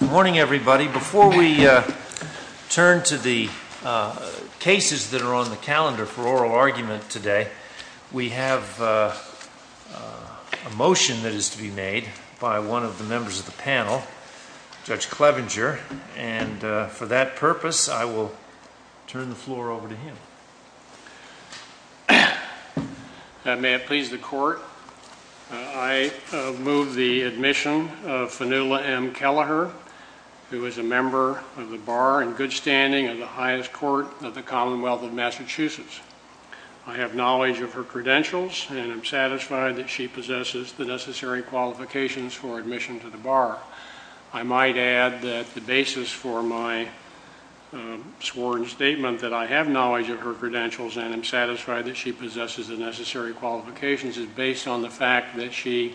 Morning everybody. Before we turn to the cases that are on the calendar for oral argument today, we have a motion that is to be made by one of the members of the panel, Judge Clevenger, and for that purpose I will turn the floor over to Judge Kelleher, who is a member of the Bar in good standing of the highest court of the Commonwealth of Massachusetts. I have knowledge of her credentials and I'm satisfied that she possesses the necessary qualifications for admission to the Bar. I might add that the basis for my sworn statement that I have knowledge of her credentials and I'm satisfied that she possesses the necessary qualifications is based on the fact that she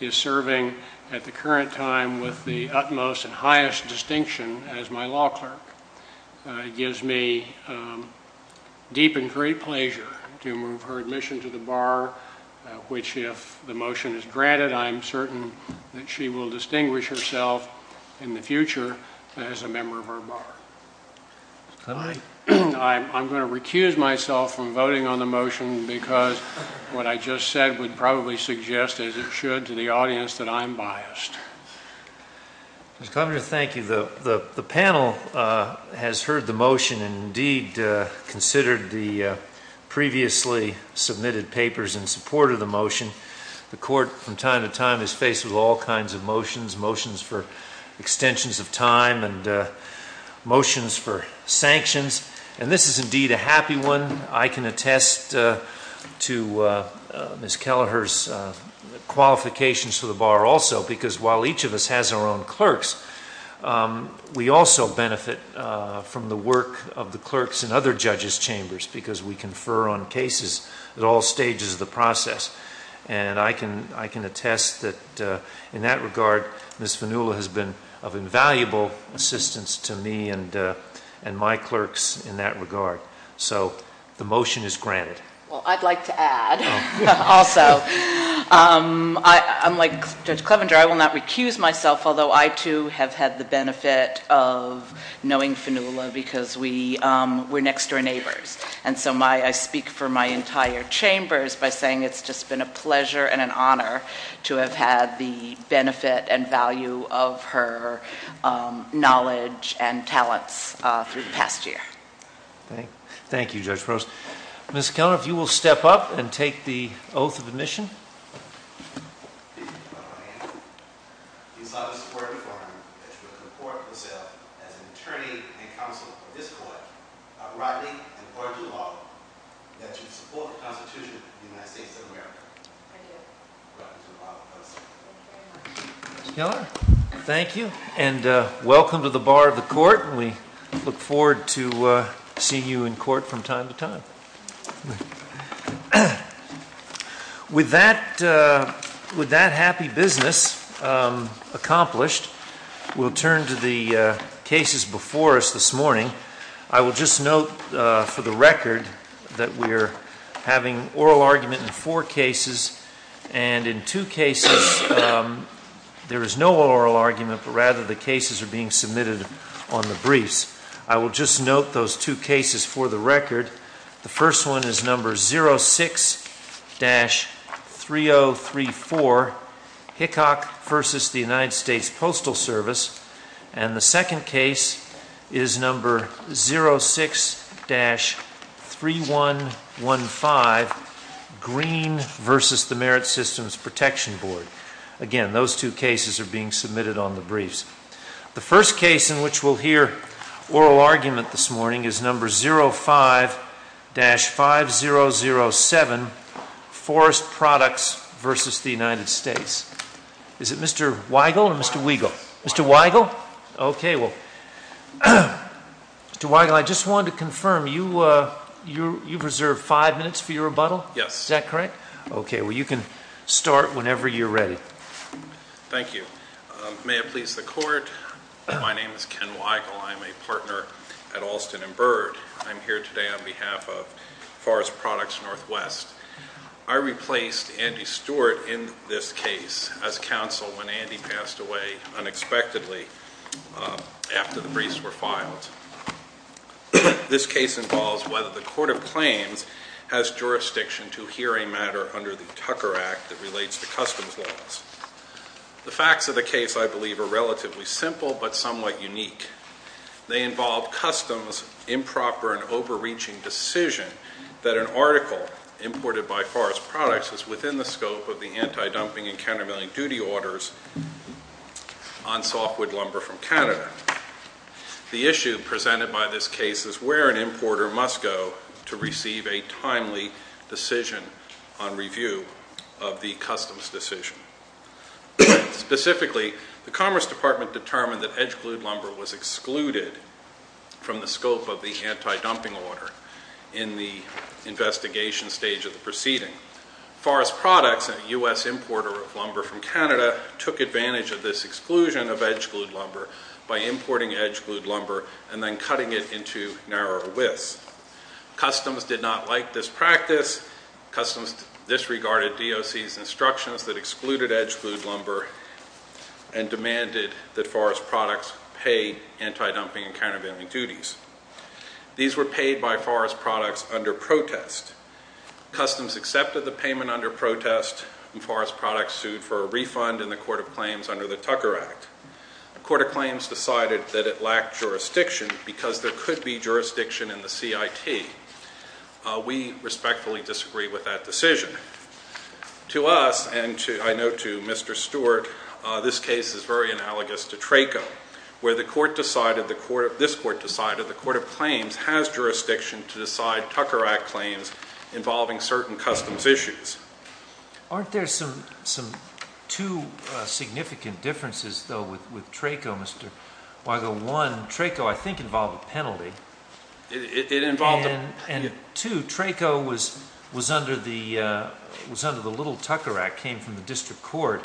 is serving at the current time with the utmost and highest distinction as my law clerk. It gives me deep and great pleasure to move her admission to the Bar, which if the motion is granted I'm certain that she will distinguish herself in the future as a member of our Bar. I'm going to recuse myself from voting on the motion because what I just said would probably suggest as it should to the audience that I'm biased. Mr. Clevenger, thank you. The panel has heard the motion and indeed considered the previously submitted papers in support of the motion. The court from time to time is faced with all kinds of motions, motions for extensions of time and motions for sanctions, and this is indeed a happy one. I can attest to Ms. Kelleher's qualifications for the Bar also because while each of us has our own clerks, we also benefit from the work of the clerks in other judges chambers because we confer on cases at all stages of the process. I can attest that in that regard Ms. Vanula has been of the benefit of knowing Vanula because we were next-door neighbors. I speak for my entire chambers by saying it's just been a pleasure and an honor to have had the benefit and value of her knowledge and talents through the past year. Thank you, Judge Prost. Ms. Kelleher, if you will step up and take the oath of admission. You saw the support for him that you would support yourself as an attorney and counsel for this court, not rightly and urgently at all, that you would support the Constitution of the United States of America. Thank you and welcome to the Bar of the Court. We look forward to seeing you in court from time to time. With that happy business accomplished, we'll turn to the cases before us this morning. I will just note for the record that we're having oral argument in four cases and in two cases there is no oral argument but rather the cases are being submitted on the briefs. I will just note those two cases for the record. The first one is number 06-3034, Hickok versus the United States Postal Service, and the second case is number 06-3115, Green versus the Merit Systems Protection Board. Again, those two cases are being submitted on the briefs. The first case in which we'll hear oral argument this morning is number 05-5007, Forest Products versus the United States. Is it Mr. Weigel or Mr. Weigel? Mr. Weigel? Okay, well, Mr. Weigel, I just wanted to confirm, you've reserved five minutes for your rebuttal? Yes. Is that correct? Okay, well, you can start whenever you're ready. Thank you. May it please the Court, my name is Ken Weigel. I'm a partner at Alston and Byrd. I'm here today on behalf of Forest Products Northwest. I replaced Andy Stewart in this case as counsel when Andy passed away unexpectedly after the briefs were filed. This case involves whether the Court of Claims has jurisdiction to hear a matter under the Tucker Act that relates to customs laws. The facts of the case, I believe, are relatively simple but somewhat unique. They involve customs' improper and overreaching decision that an article imported by Forest Products is within the scope of the anti-dumping and countermeasuring duty orders on softwood lumber from Canada. The issue presented by this case is where an importer must go to receive a timely decision on review of the customs decision. Specifically, the Commerce Department determined that edge glued lumber was excluded from the scope of the anti-dumping order in the investigation stage of the proceeding. Forest Products, a U.S. importer of lumber from Canada, took advantage of this exclusion of edge glued lumber by importing edge glued lumber and then cutting it into narrower widths. Customs did not like this practice. Customs disregarded DOC's instructions that excluded edge glued lumber and demanded that Forest Products pay anti-dumping and countermeasuring duties. These were paid by Forest Products under protest. Customs accepted the payment under protest and Forest Products sued for a refund in the Court of Claims under the Tucker Act. The Court of Claims decided that it lacked jurisdiction because there could be jurisdiction in the CIT. We respectfully disagree with that decision. To us, and I note to Mr. Stewart, this case is very analogous to TRACO, where this Court decided the Court of Claims has jurisdiction to decide Tucker Act claims involving certain customs issues. Aren't there some two significant differences though with TRACO, Mr. Weigel? One, TRACO I think involved a penalty. It involved a penalty. And two, TRACO was under the Little Tucker Act, came from the District Court,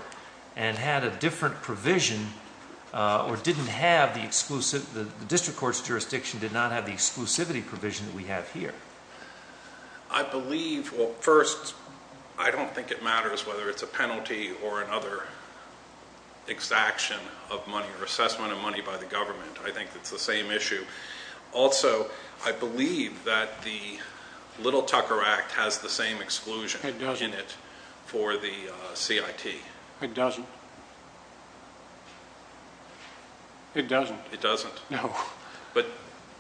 and had a different provision or didn't have the exclusive, the District Court's jurisdiction did not have the exclusivity provision that we have here. I believe, well first, I don't think it matters whether it's a penalty or another exaction of money or assessment of money by the government. I think it's the same issue. Also, I believe that the Little Tucker Act has the same exclusion in it for the CIT. It doesn't. It doesn't. It doesn't. No. But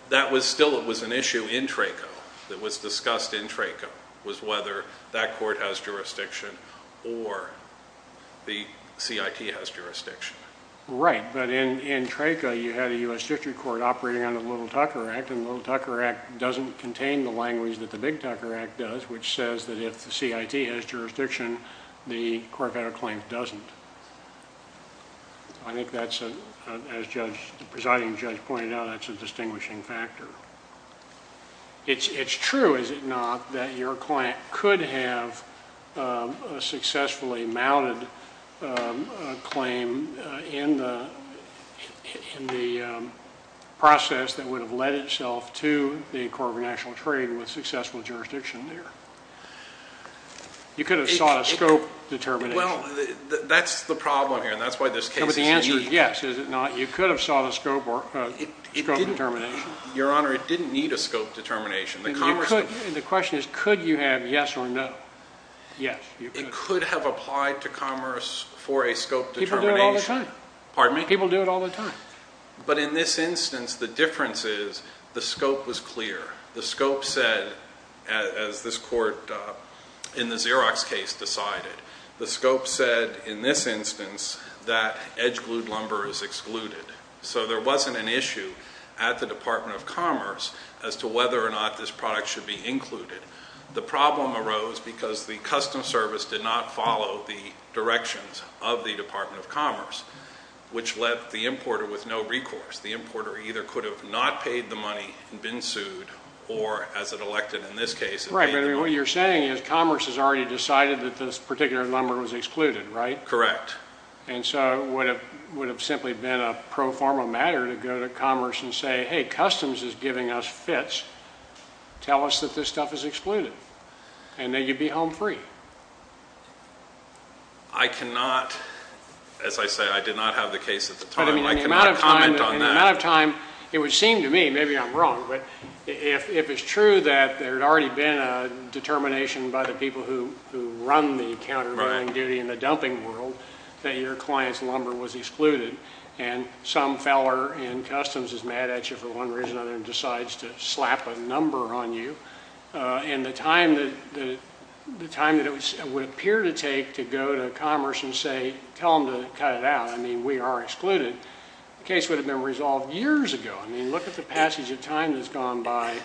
that was still, it was an issue in TRACO that was discussed in TRACO, was whether that Court has jurisdiction or the CIT has jurisdiction. Right, but in TRACO you had a U.S. District Court operating under the Little Tucker Act, and the Little Tucker Act doesn't contain the language that the Big Tucker Act does, which says that if the CIT has jurisdiction, the Court of Claims doesn't. I think that's, as the presiding judge pointed out, that's a distinguishing factor. It's true, is it not, that your client could have successfully mounted a claim in the process that would have led itself to the Court of National Trade with successful jurisdiction there. You could have sought a scope determination. Well, that's the problem here, and that's why this case is an issue. But the answer is yes, is it not. You could have sought a scope determination. Your Honor, it didn't need a scope determination. The question is could you have yes or no. Yes, you could. It could have applied to commerce for a scope determination. People do it all the time. Pardon me? People do it all the time. But in this instance, the difference is the scope was clear. The scope said, as this court in the Xerox case decided, the scope said in this instance that edge glued lumber is excluded. So there wasn't an issue at the Department of Commerce as to whether or not this product should be included. The problem arose because the Customs Service did not follow the directions of the Department of Commerce, which left the importer with no recourse. The importer either could have not paid the money and been sued, or as it elected in this case. Right, but what you're saying is Commerce has already decided that this particular lumber was excluded, right? Correct. And so it would have simply been a pro forma matter to go to Commerce and say, hey, Customs is giving us fits. Tell us that this stuff is excluded and that you'd be home free. I cannot, as I say, I did not have the case at the time. I cannot comment on that. In the amount of time, it would seem to me, maybe I'm wrong, but if it's true that there had already been a determination by the people who run the countervailing duty in the dumping world that your client's lumber was excluded and some feller in Customs is mad at you for one reason or another and decides to slap a number on you, and the time that it would appear to take to go to Commerce and say, tell them to cut it out, I mean, we are excluded, the case would have been resolved years ago. I mean, look at the passage of time that's gone by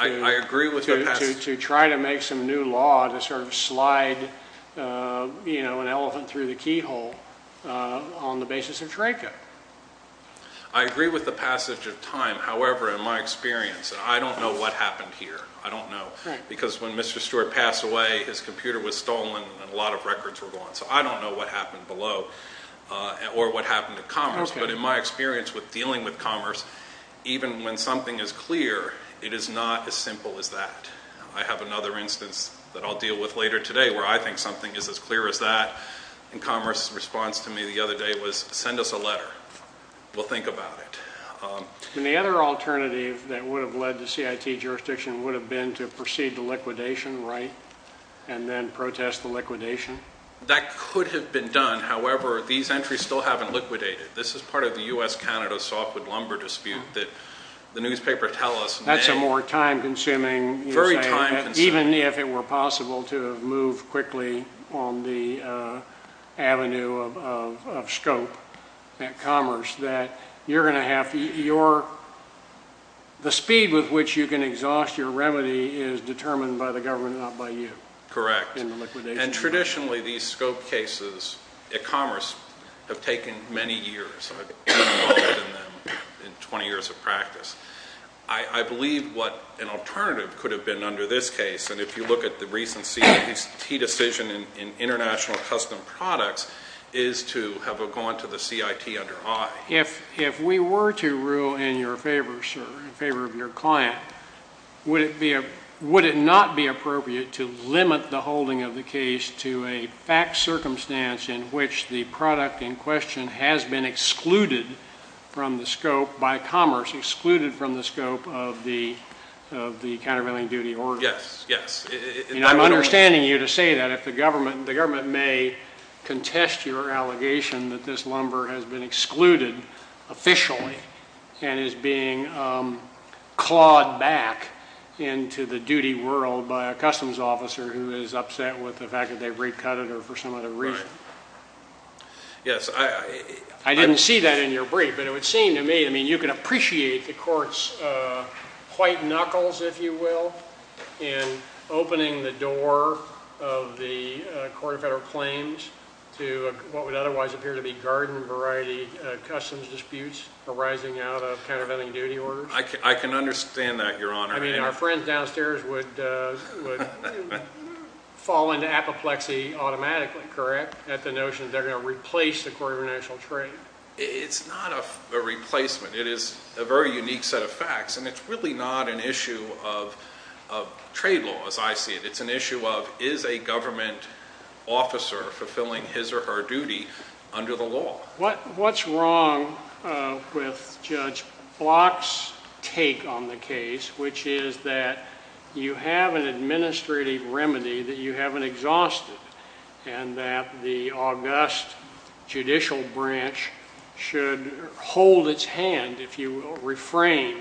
to try to make some new law to sort of slide an elephant through the keyhole on the basis of TRACA. I agree with the passage of time. However, in my experience, I don't know what happened here. I don't know. Because when Mr. Stewart passed away, his computer was stolen and a lot of records were gone. So I don't know what happened below or what happened at Commerce. But in my experience with dealing with Commerce, even when something is clear, it is not as simple as that. I have another instance that I'll deal with later today where I think something is as clear as that. And Commerce's response to me the other day was, send us a letter. We'll think about it. And the other alternative that would have led to CIT jurisdiction would have been to proceed to liquidation, right, and then protest the liquidation? That could have been done. However, these entries still haven't liquidated. This is part of the U.S.-Canada softwood lumber dispute that the newspapers tell us. That's a more time-consuming. Very time-consuming. Even if it were possible to move quickly on the avenue of scope at Commerce, that you're going to have your – the speed with which you can exhaust your remedy is determined by the government, not by you. Correct. And traditionally, these scope cases at Commerce have taken many years. I've been involved in them in 20 years of practice. I believe what an alternative could have been under this case, and if you look at the recent CIT decision in international custom products, is to have gone to the CIT under I. If we were to rule in your favor, sir, in favor of your client, would it not be appropriate to limit the holding of the case to a fact circumstance in which the product in question has been excluded from the scope by Commerce, excluded from the scope of the countervailing duty order? Yes, yes. I'm understanding you to say that if the government – the government may contest your allegation that this lumber has been excluded officially and is being clawed back into the duty world by a customs officer who is upset with the fact that they've recut it or for some other reason. Right. Yes. I didn't see that in your brief, but it would seem to me – I mean, you can appreciate the court's white knuckles, if you will, in opening the door of the court of federal claims to what would otherwise appear to be garden variety customs disputes arising out of countervailing duty orders. I can understand that, Your Honor. I mean, our friends downstairs would fall into apoplexy automatically, correct, at the notion that they're going to replace the Court of International Trade? It's not a replacement. It is a very unique set of facts, and it's really not an issue of trade laws, I see it. It's an issue of is a government officer fulfilling his or her duty under the law? What's wrong with Judge Block's take on the case, which is that you have an administrative remedy that you haven't exhausted and that the august judicial branch should hold its hand, if you will, refrain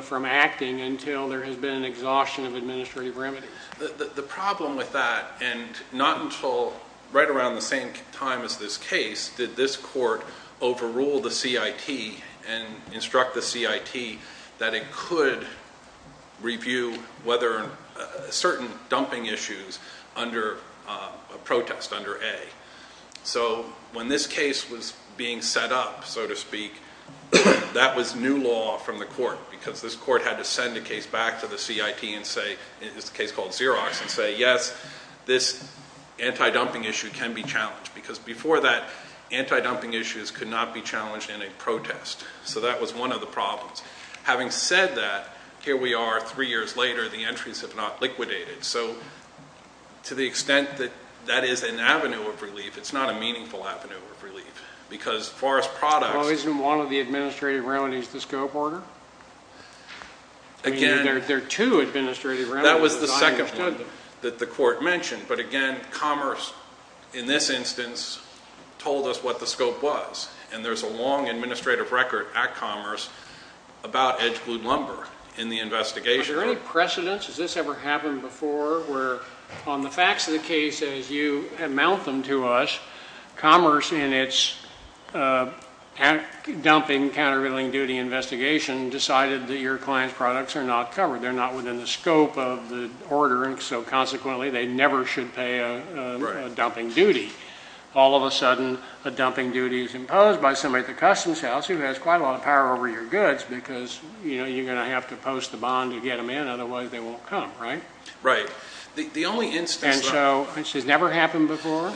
from acting until there has been an exhaustion of administrative remedies? The problem with that – and not until right around the same time as this case did this court overrule the CIT and instruct the CIT that it could review certain dumping issues under a protest, under A. So when this case was being set up, so to speak, that was new law from the court, because this court had to send a case back to the CIT and say – it's a case called Xerox – and say, yes, this anti-dumping issue can be challenged, because before that, anti-dumping issues could not be challenged in a protest. So that was one of the problems. Having said that, here we are three years later. The entries have not liquidated. So to the extent that that is an avenue of relief, it's not a meaningful avenue of relief, because as far as products – Well, isn't one of the administrative remedies the scope order? Again – I mean, there are two administrative remedies. That was the second one that the court mentioned. But again, Commerce, in this instance, told us what the scope was. And there's a long administrative record at Commerce about edge glued lumber in the investigation. Was there any precedence? Has this ever happened before, where on the facts of the case, as you amount them to us, Commerce, in its dumping, countervailing duty investigation, decided that your client's products are not covered. They're not within the scope of the order. And so consequently, they never should pay a dumping duty. All of a sudden, a dumping duty is imposed by somebody at the customs house who has quite a lot of power over your goods, because you're going to have to post a bond to get them in. Otherwise, they won't come, right? Right. And so this has never happened before?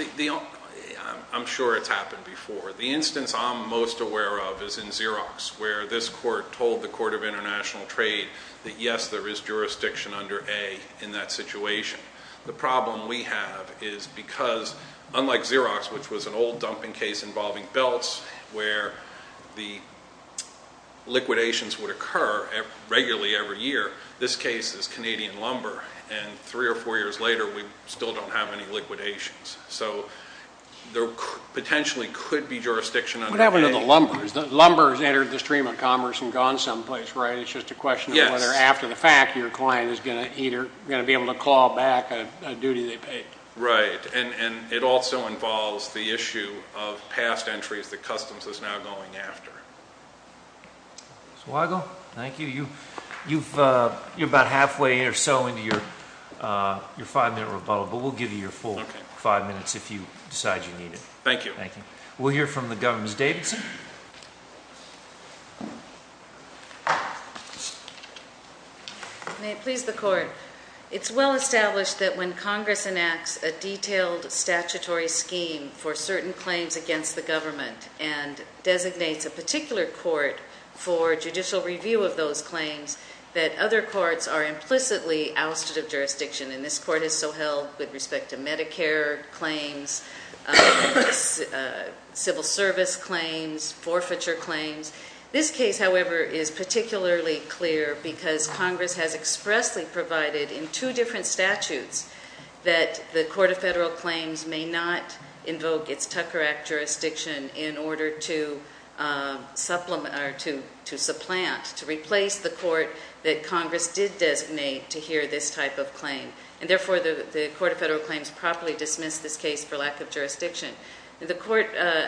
I'm sure it's happened before. The instance I'm most aware of is in Xerox, where this court told the Court of International Trade that, yes, there is jurisdiction under A in that situation. The problem we have is because, unlike Xerox, which was an old dumping case involving belts, where the liquidations would occur regularly every year, this case is Canadian lumber. And three or four years later, we still don't have any liquidations. So there potentially could be jurisdiction under A. What happened to the lumbers? The lumbers entered the stream of commerce and gone someplace, right? It's just a question of whether, after the fact, your client is going to be able to claw back a duty they paid. Right. And it also involves the issue of past entries that customs is now going after. Mr. Weigel, thank you. You're about halfway or so into your five-minute rebuttal, but we'll give you your full five minutes if you decide you need it. Thank you. Thank you. We'll hear from the Governor's Davidson. May it please the Court. It's well established that when Congress enacts a detailed statutory scheme for certain claims against the government and designates a particular court for judicial review of those claims, that other courts are implicitly ousted of jurisdiction. And this court has so held with respect to Medicare claims, civil service claims, forfeiture claims. This case, however, is particularly clear because Congress has expressly provided in two different statutes that the Court of Federal Claims may not invoke its Tucker Act jurisdiction in order to supplant, to replace the court that Congress did designate to hear this type of claim. And therefore, the Court of Federal Claims properly dismissed this case for lack of jurisdiction. Do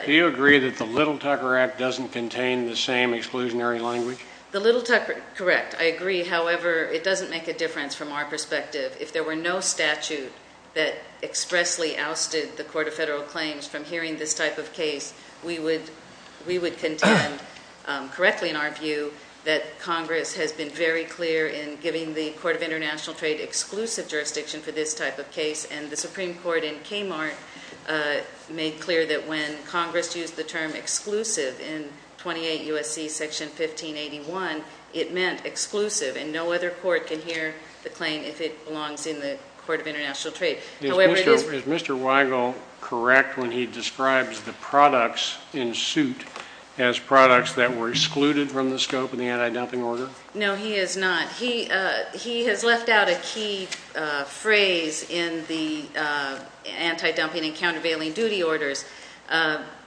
you agree that the little Tucker Act doesn't contain the same exclusionary language? The little Tucker, correct. I agree. However, it doesn't make a difference from our perspective. If there were no statute that expressly ousted the Court of Federal Claims from hearing this type of case, we would contend correctly in our view that Congress has been very clear in giving the Court of International Trade exclusive jurisdiction for this type of case. And the Supreme Court in Kmart made clear that when Congress used the term exclusive in 28 U.S.C. Section 1581, it meant exclusive and no other court can hear the claim if it belongs in the Court of International Trade. However, it is- Is Mr. Weigel correct when he describes the products in suit as products that were excluded from the scope of the anti-dumping order? No, he is not. He has left out a key phrase in the anti-dumping and countervailing duty orders.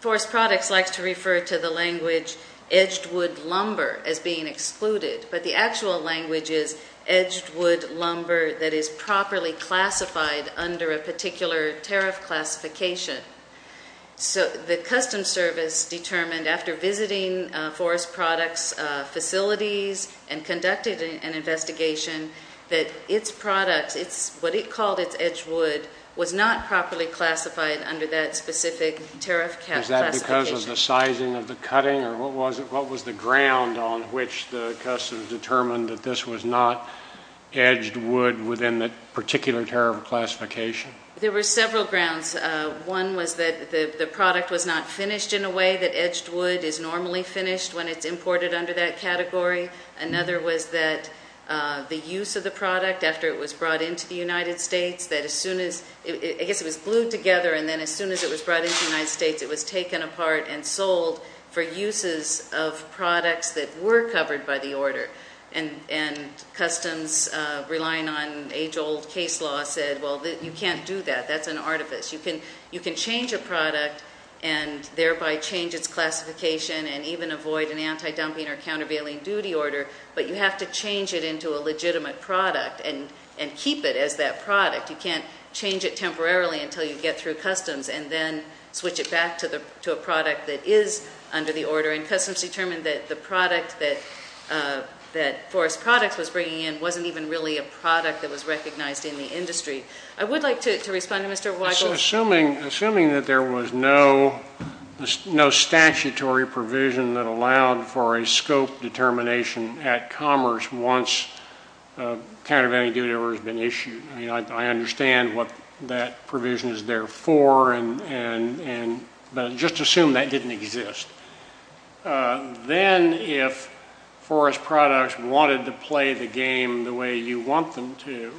Forest Products likes to refer to the language edged wood lumber as being excluded, but the actual language is edged wood lumber that is properly classified under a particular tariff classification. So the Customs Service determined after visiting Forest Products facilities and conducted an investigation that its products, what it called its edged wood, was not properly classified under that specific tariff classification. Is that because of the sizing of the cutting? Or what was the ground on which the Customs determined that this was not edged wood within that particular tariff classification? There were several grounds. One was that the product was not finished in a way that edged wood is normally finished when it's imported under that category. Another was that the use of the product after it was brought into the United States, that as soon as- I guess it was glued together and then as soon as it was brought into the United States, it was taken apart and sold for uses of products that were covered by the order. And Customs, relying on age-old case law, said, well, you can't do that. That's an artifice. You can change a product and thereby change its classification and even avoid an anti-dumping or countervailing duty order, but you have to change it into a legitimate product and keep it as that product. You can't change it temporarily until you get through Customs and then switch it back to a product that is under the order. And Customs determined that the product that Forest Products was bringing in wasn't even really a product that was recognized in the industry. I would like to respond to Mr. Weigel. Assuming that there was no statutory provision that allowed for a scope determination at Commerce once a countervailing duty order has been issued, I understand what that provision is there for, but just assume that didn't exist. Then if Forest Products wanted to play the game the way you want them to,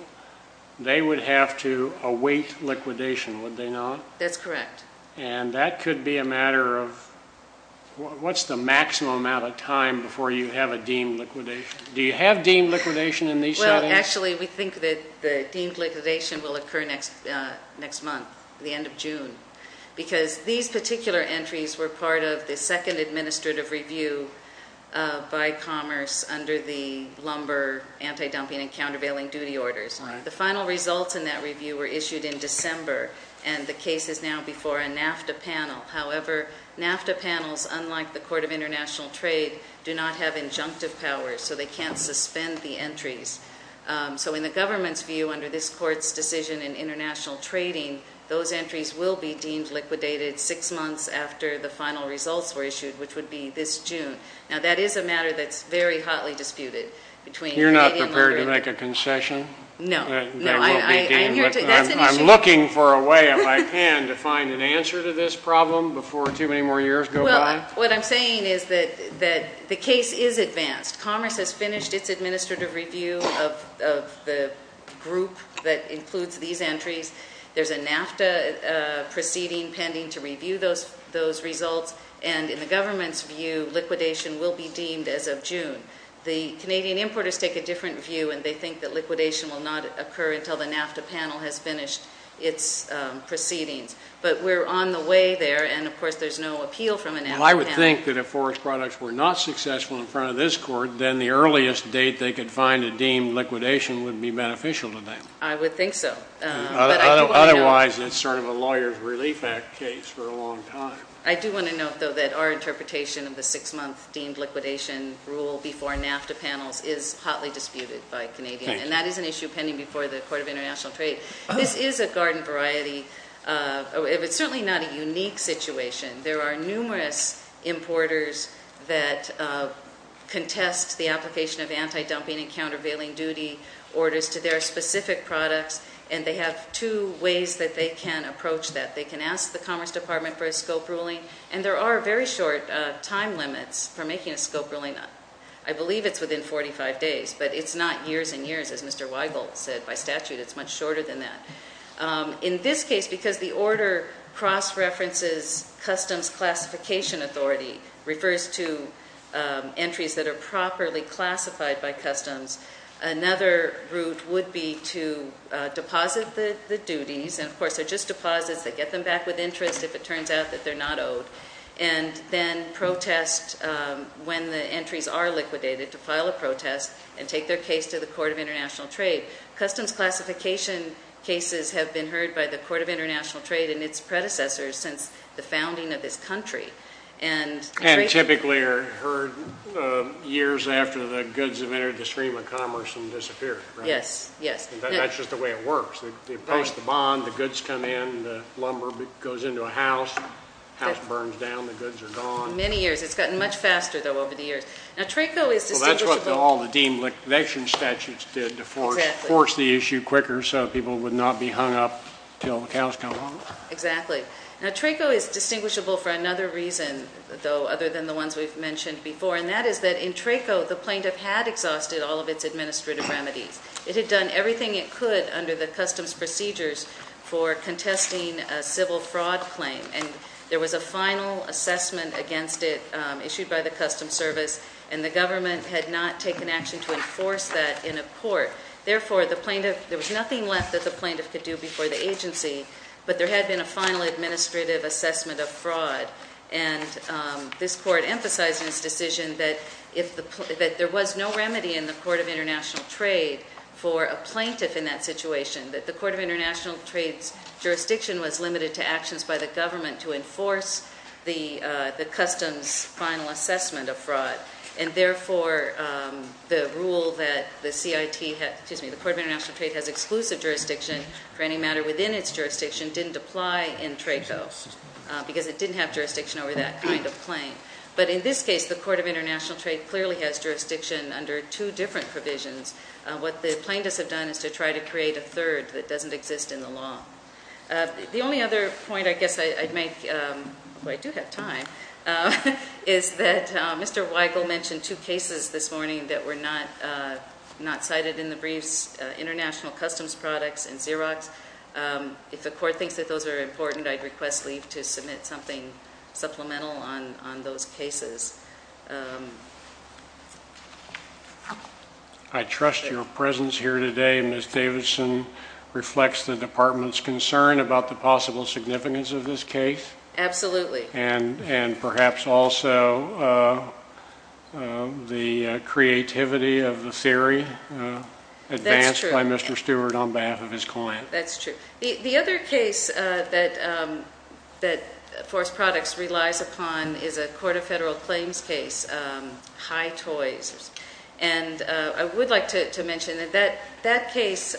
they would have to await liquidation, would they not? That's correct. And that could be a matter of what's the maximum amount of time before you have a deemed liquidation? Do you have deemed liquidation in these settings? Actually, we think that the deemed liquidation will occur next month, the end of June, because these particular entries were part of the second administrative review by Commerce under the lumber anti-dumping and countervailing duty orders. The final results in that review were issued in December, and the case is now before a NAFTA panel. However, NAFTA panels, unlike the Court of International Trade, do not have injunctive power, so they can't suspend the entries. So in the government's view, under this Court's decision in international trading, those entries will be deemed liquidated six months after the final results were issued, which would be this June. Now, that is a matter that's very hotly disputed. You're not prepared to make a concession? No. I'm looking for a way, if I can, to find an answer to this problem before too many more years go by. Well, what I'm saying is that the case is advanced. Commerce has finished its administrative review of the group that includes these entries. There's a NAFTA proceeding pending to review those results, and in the government's view, liquidation will be deemed as of June. The Canadian importers take a different view, and they think that liquidation will not occur until the NAFTA panel has finished its proceedings. But we're on the way there, and, of course, there's no appeal from a NAFTA panel. Well, I would think that if forest products were not successful in front of this Court, then the earliest date they could find a deemed liquidation would be beneficial to them. I would think so. Otherwise, it's sort of a lawyer's relief act case for a long time. I do want to note, though, that our interpretation of the six-month deemed liquidation rule before NAFTA panels is hotly disputed by Canadians, and that is an issue pending before the Court of International Trade. This is a garden variety. It's certainly not a unique situation. There are numerous importers that contest the application of anti-dumping and countervailing duty orders to their specific products, and they have two ways that they can approach that. They can ask the Commerce Department for a scope ruling, and there are very short time limits for making a scope ruling. I believe it's within 45 days, but it's not years and years, as Mr. Weigel said. By statute, it's much shorter than that. In this case, because the order cross-references customs classification authority, refers to entries that are properly classified by customs, another route would be to deposit the duties, and of course they're just deposits that get them back with interest if it turns out that they're not owed, and then protest when the entries are liquidated to file a protest and take their case to the Court of International Trade. Customs classification cases have been heard by the Court of International Trade and its predecessors since the founding of this country. And typically are heard years after the goods have entered the stream of commerce and disappeared, right? Yes, yes. That's just the way it works. They post the bond, the goods come in, the lumber goes into a house, the house burns down, the goods are gone. Many years. It's gotten much faster, though, over the years. Now, TRACO is distinguishable. Well, that's what all the deemed liquidation statutes did to force the issue quicker so people would not be hung up until the cows come home. Exactly. Now, TRACO is distinguishable for another reason, though, other than the ones we've mentioned before, and that is that in TRACO, the plaintiff had exhausted all of its administrative remedies. It had done everything it could under the customs procedures for contesting a civil fraud claim, and there was a final assessment against it issued by the Customs Service, and the government had not taken action to enforce that in a court. Therefore, there was nothing left that the plaintiff could do before the agency, but there had been a final administrative assessment of fraud, and this court emphasized in its decision that there was no remedy in the Court of International Trade for a plaintiff in that situation, that the Court of International Trade's jurisdiction was limited to actions by the government to enforce the customs final assessment of fraud, and therefore, the rule that the CIT had, excuse me, the Court of International Trade has exclusive jurisdiction for any matter within its jurisdiction didn't apply in TRACO because it didn't have jurisdiction over that kind of claim. But in this case, the Court of International Trade clearly has jurisdiction under two different provisions. What the plaintiffs have done is to try to create a third that doesn't exist in the law. The only other point I guess I'd make, although I do have time, is that Mr. Weigel mentioned two cases this morning that were not cited in the briefs, international customs products and Xerox. If the court thinks that those are important, I'd request leave to submit something supplemental on those cases. I trust your presence here today, Ms. Davidson, reflects the department's concern about the possible significance of this case. Absolutely. And perhaps also the creativity of the theory advanced by Mr. Stewart on behalf of his client. That's true. The other case that Forest Products relies upon is a Court of Federal Claims case, High Toys. And I would like to mention that that case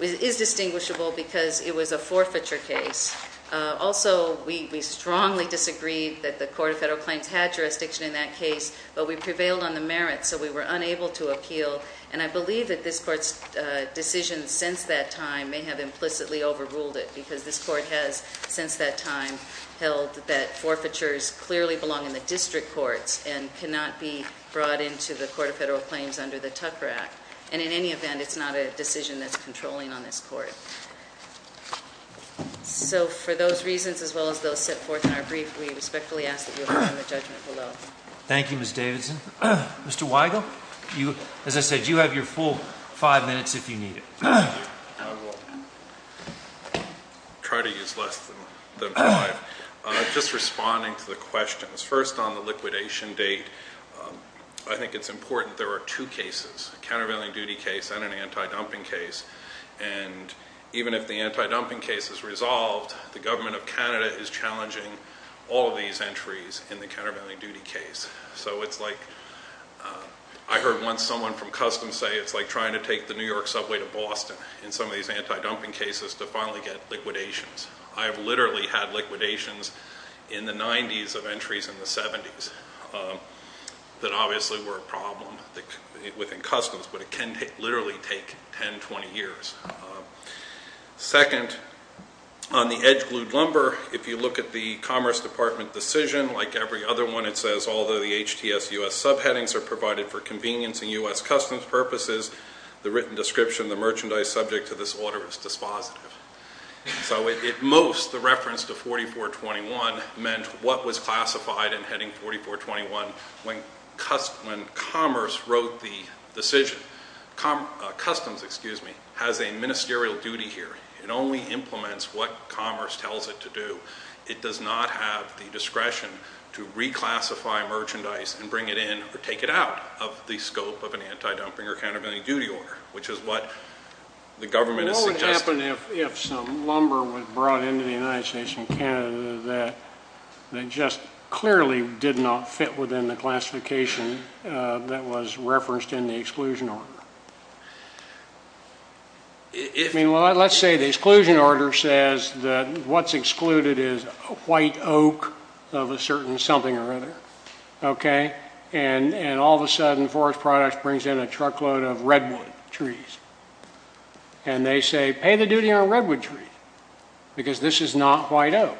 is distinguishable because it was a forfeiture case. Also, we strongly disagreed that the Court of Federal Claims had jurisdiction in that case, but we prevailed on the merits, so we were unable to appeal. And I believe that this court's decision since that time may have implicitly overruled it, because this court has since that time held that forfeitures clearly belong in the district courts and cannot be brought into the Court of Federal Claims under the Tucker Act. And in any event, it's not a decision that's controlling on this court. So for those reasons, as well as those set forth in our brief, we respectfully ask that you abide by the judgment below. Thank you, Ms. Davidson. Mr. Weigel, as I said, you have your full five minutes if you need it. Thank you. I will try to use less than five. Just responding to the questions, first on the liquidation date, I think it's important. There are two cases, a countervailing duty case and an anti-dumping case. And even if the anti-dumping case is resolved, the government of Canada is challenging all of these entries in the countervailing duty case. So it's like I heard once someone from Customs say it's like trying to take the New York subway to Boston in some of these anti-dumping cases to finally get liquidations. I have literally had liquidations in the 90s of entries in the 70s that obviously were a problem within Customs, but it can literally take 10, 20 years. Second, on the edge-glued lumber, if you look at the Commerce Department decision, like every other one it says, although the HTS U.S. subheadings are provided for convenience and U.S. Customs purposes, the written description of the merchandise subject to this order is dispositive. So at most, the reference to 4421 meant what was classified in heading 4421 when Commerce wrote the decision. Customs has a ministerial duty here. It only implements what Commerce tells it to do. It does not have the discretion to reclassify merchandise and bring it in or take it out of the scope of an anti-dumping or countervailing duty order, which is what the government is suggesting. What would happen if some lumber was brought into the United States from Canada that just clearly did not fit within the classification that was referenced in the exclusion order? I mean, let's say the exclusion order says that what's excluded is a white oak of a certain something or other, okay? And all of a sudden, Forest Products brings in a truckload of redwood trees. And they say, pay the duty on redwood trees because this is not white oak.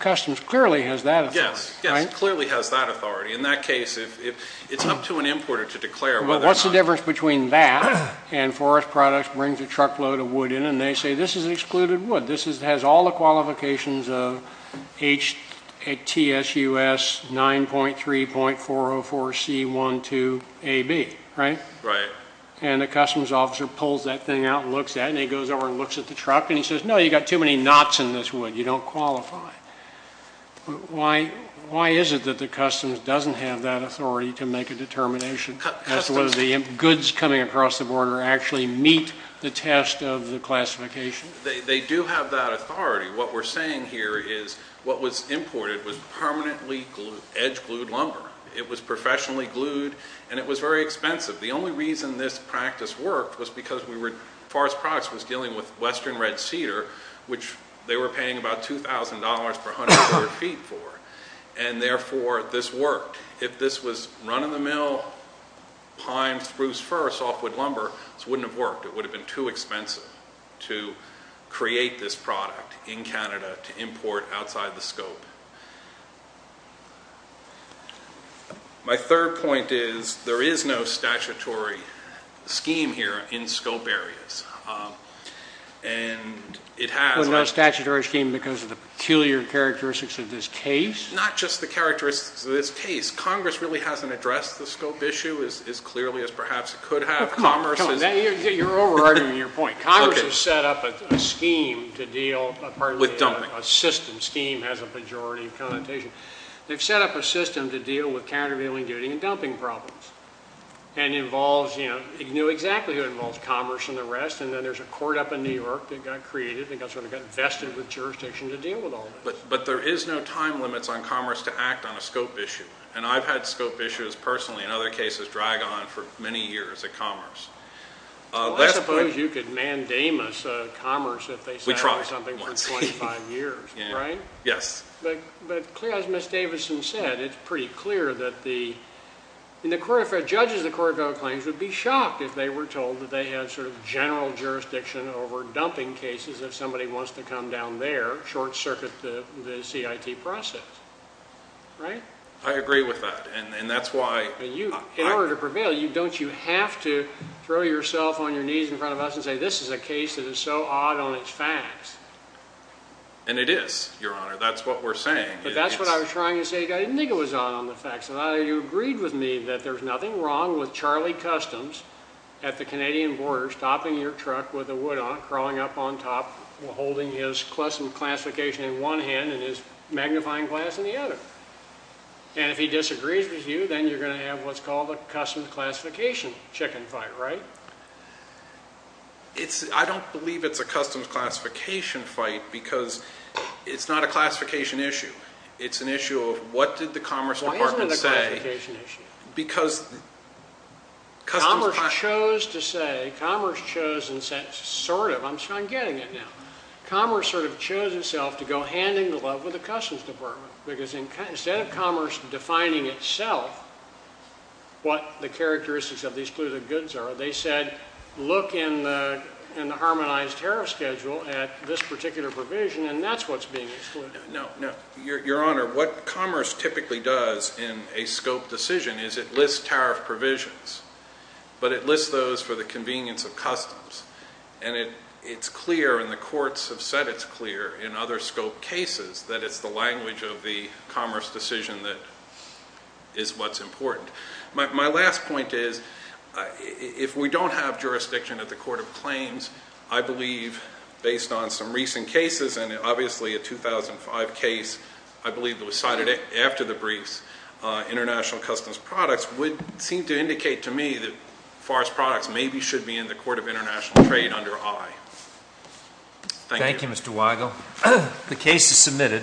Customs clearly has that authority. Yes, yes, clearly has that authority. In that case, it's up to an importer to declare whether or not. There's a difference between that and Forest Products brings a truckload of wood in, and they say this is excluded wood. This has all the qualifications of HTSUS 9.3.404C12AB, right? Right. And the customs officer pulls that thing out and looks at it, and he goes over and looks at the truck, and he says, no, you've got too many knots in this wood. You don't qualify. Why is it that the customs doesn't have that authority to make a determination as to whether the goods coming across the border actually meet the test of the classification? They do have that authority. What we're saying here is what was imported was permanently edge-glued lumber. It was professionally glued, and it was very expensive. The only reason this practice worked was because Forest Products was dealing with western red cedar, which they were paying about $2,000 per hundred square feet for, and therefore this worked. If this was run-of-the-mill pine spruce fir, softwood lumber, this wouldn't have worked. It would have been too expensive to create this product in Canada to import outside the scope. My third point is there is no statutory scheme here in scope areas, and it has. No statutory scheme because of the peculiar characteristics of this case? Not just the characteristics of this case. Congress really hasn't addressed the scope issue as clearly as perhaps it could have. Come on. You're over-arguing your point. Congress has set up a scheme to deal with part of the system. With dumping. They've set up a system to deal with countervailing duty and dumping problems. It knew exactly what involves commerce and the rest, and then there's a court up in New York that got created and got vested with jurisdiction to deal with all of this. But there is no time limits on commerce to act on a scope issue. I've had scope issues personally, in other cases, drag on for many years of commerce. I suppose you could mandamus commerce if they sat on something for 25 years, right? Yes. But as Ms. Davidson said, it's pretty clear that the judges of the court of federal claims would be shocked if they were told that they had sort of general jurisdiction over dumping cases if somebody wants to come down there, short-circuit the CIT process, right? I agree with that, and that's why. In order to prevail, don't you have to throw yourself on your knees in front of us and say this is a case that is so odd on its facts? And it is, Your Honor. That's what we're saying. But that's what I was trying to say. I didn't think it was odd on the facts. I thought you agreed with me that there's nothing wrong with Charlie Customs at the Canadian border stopping your truck with the wood on it, crawling up on top, holding his custom classification in one hand and his magnifying glass in the other. And if he disagrees with you, then you're going to have what's called a customs classification chicken fight, right? I don't believe it's a customs classification fight because it's not a classification issue. It's an issue of what did the Commerce Department say? Why isn't it a classification issue? Because Customs… Commerce chose to say, Commerce chose and said sort of, I'm getting it now, Commerce sort of chose itself to go hand in glove with the Customs Department because instead of Commerce defining itself what the characteristics of these clues of goods are, they said look in the Harmonized Tariff Schedule at this particular provision, and that's what's being excluded. No, no. Your Honor, what Commerce typically does in a scope decision is it lists tariff provisions, but it lists those for the convenience of Customs. And it's clear and the courts have said it's clear in other scope cases that it's the language of the Commerce decision that is what's important. My last point is if we don't have jurisdiction at the Court of Claims, I believe based on some recent cases and obviously a 2005 case, I believe that was cited after the briefs, international customs products would seem to indicate to me that forest products maybe should be in the Court of International Trade under I. Thank you. The case is submitted.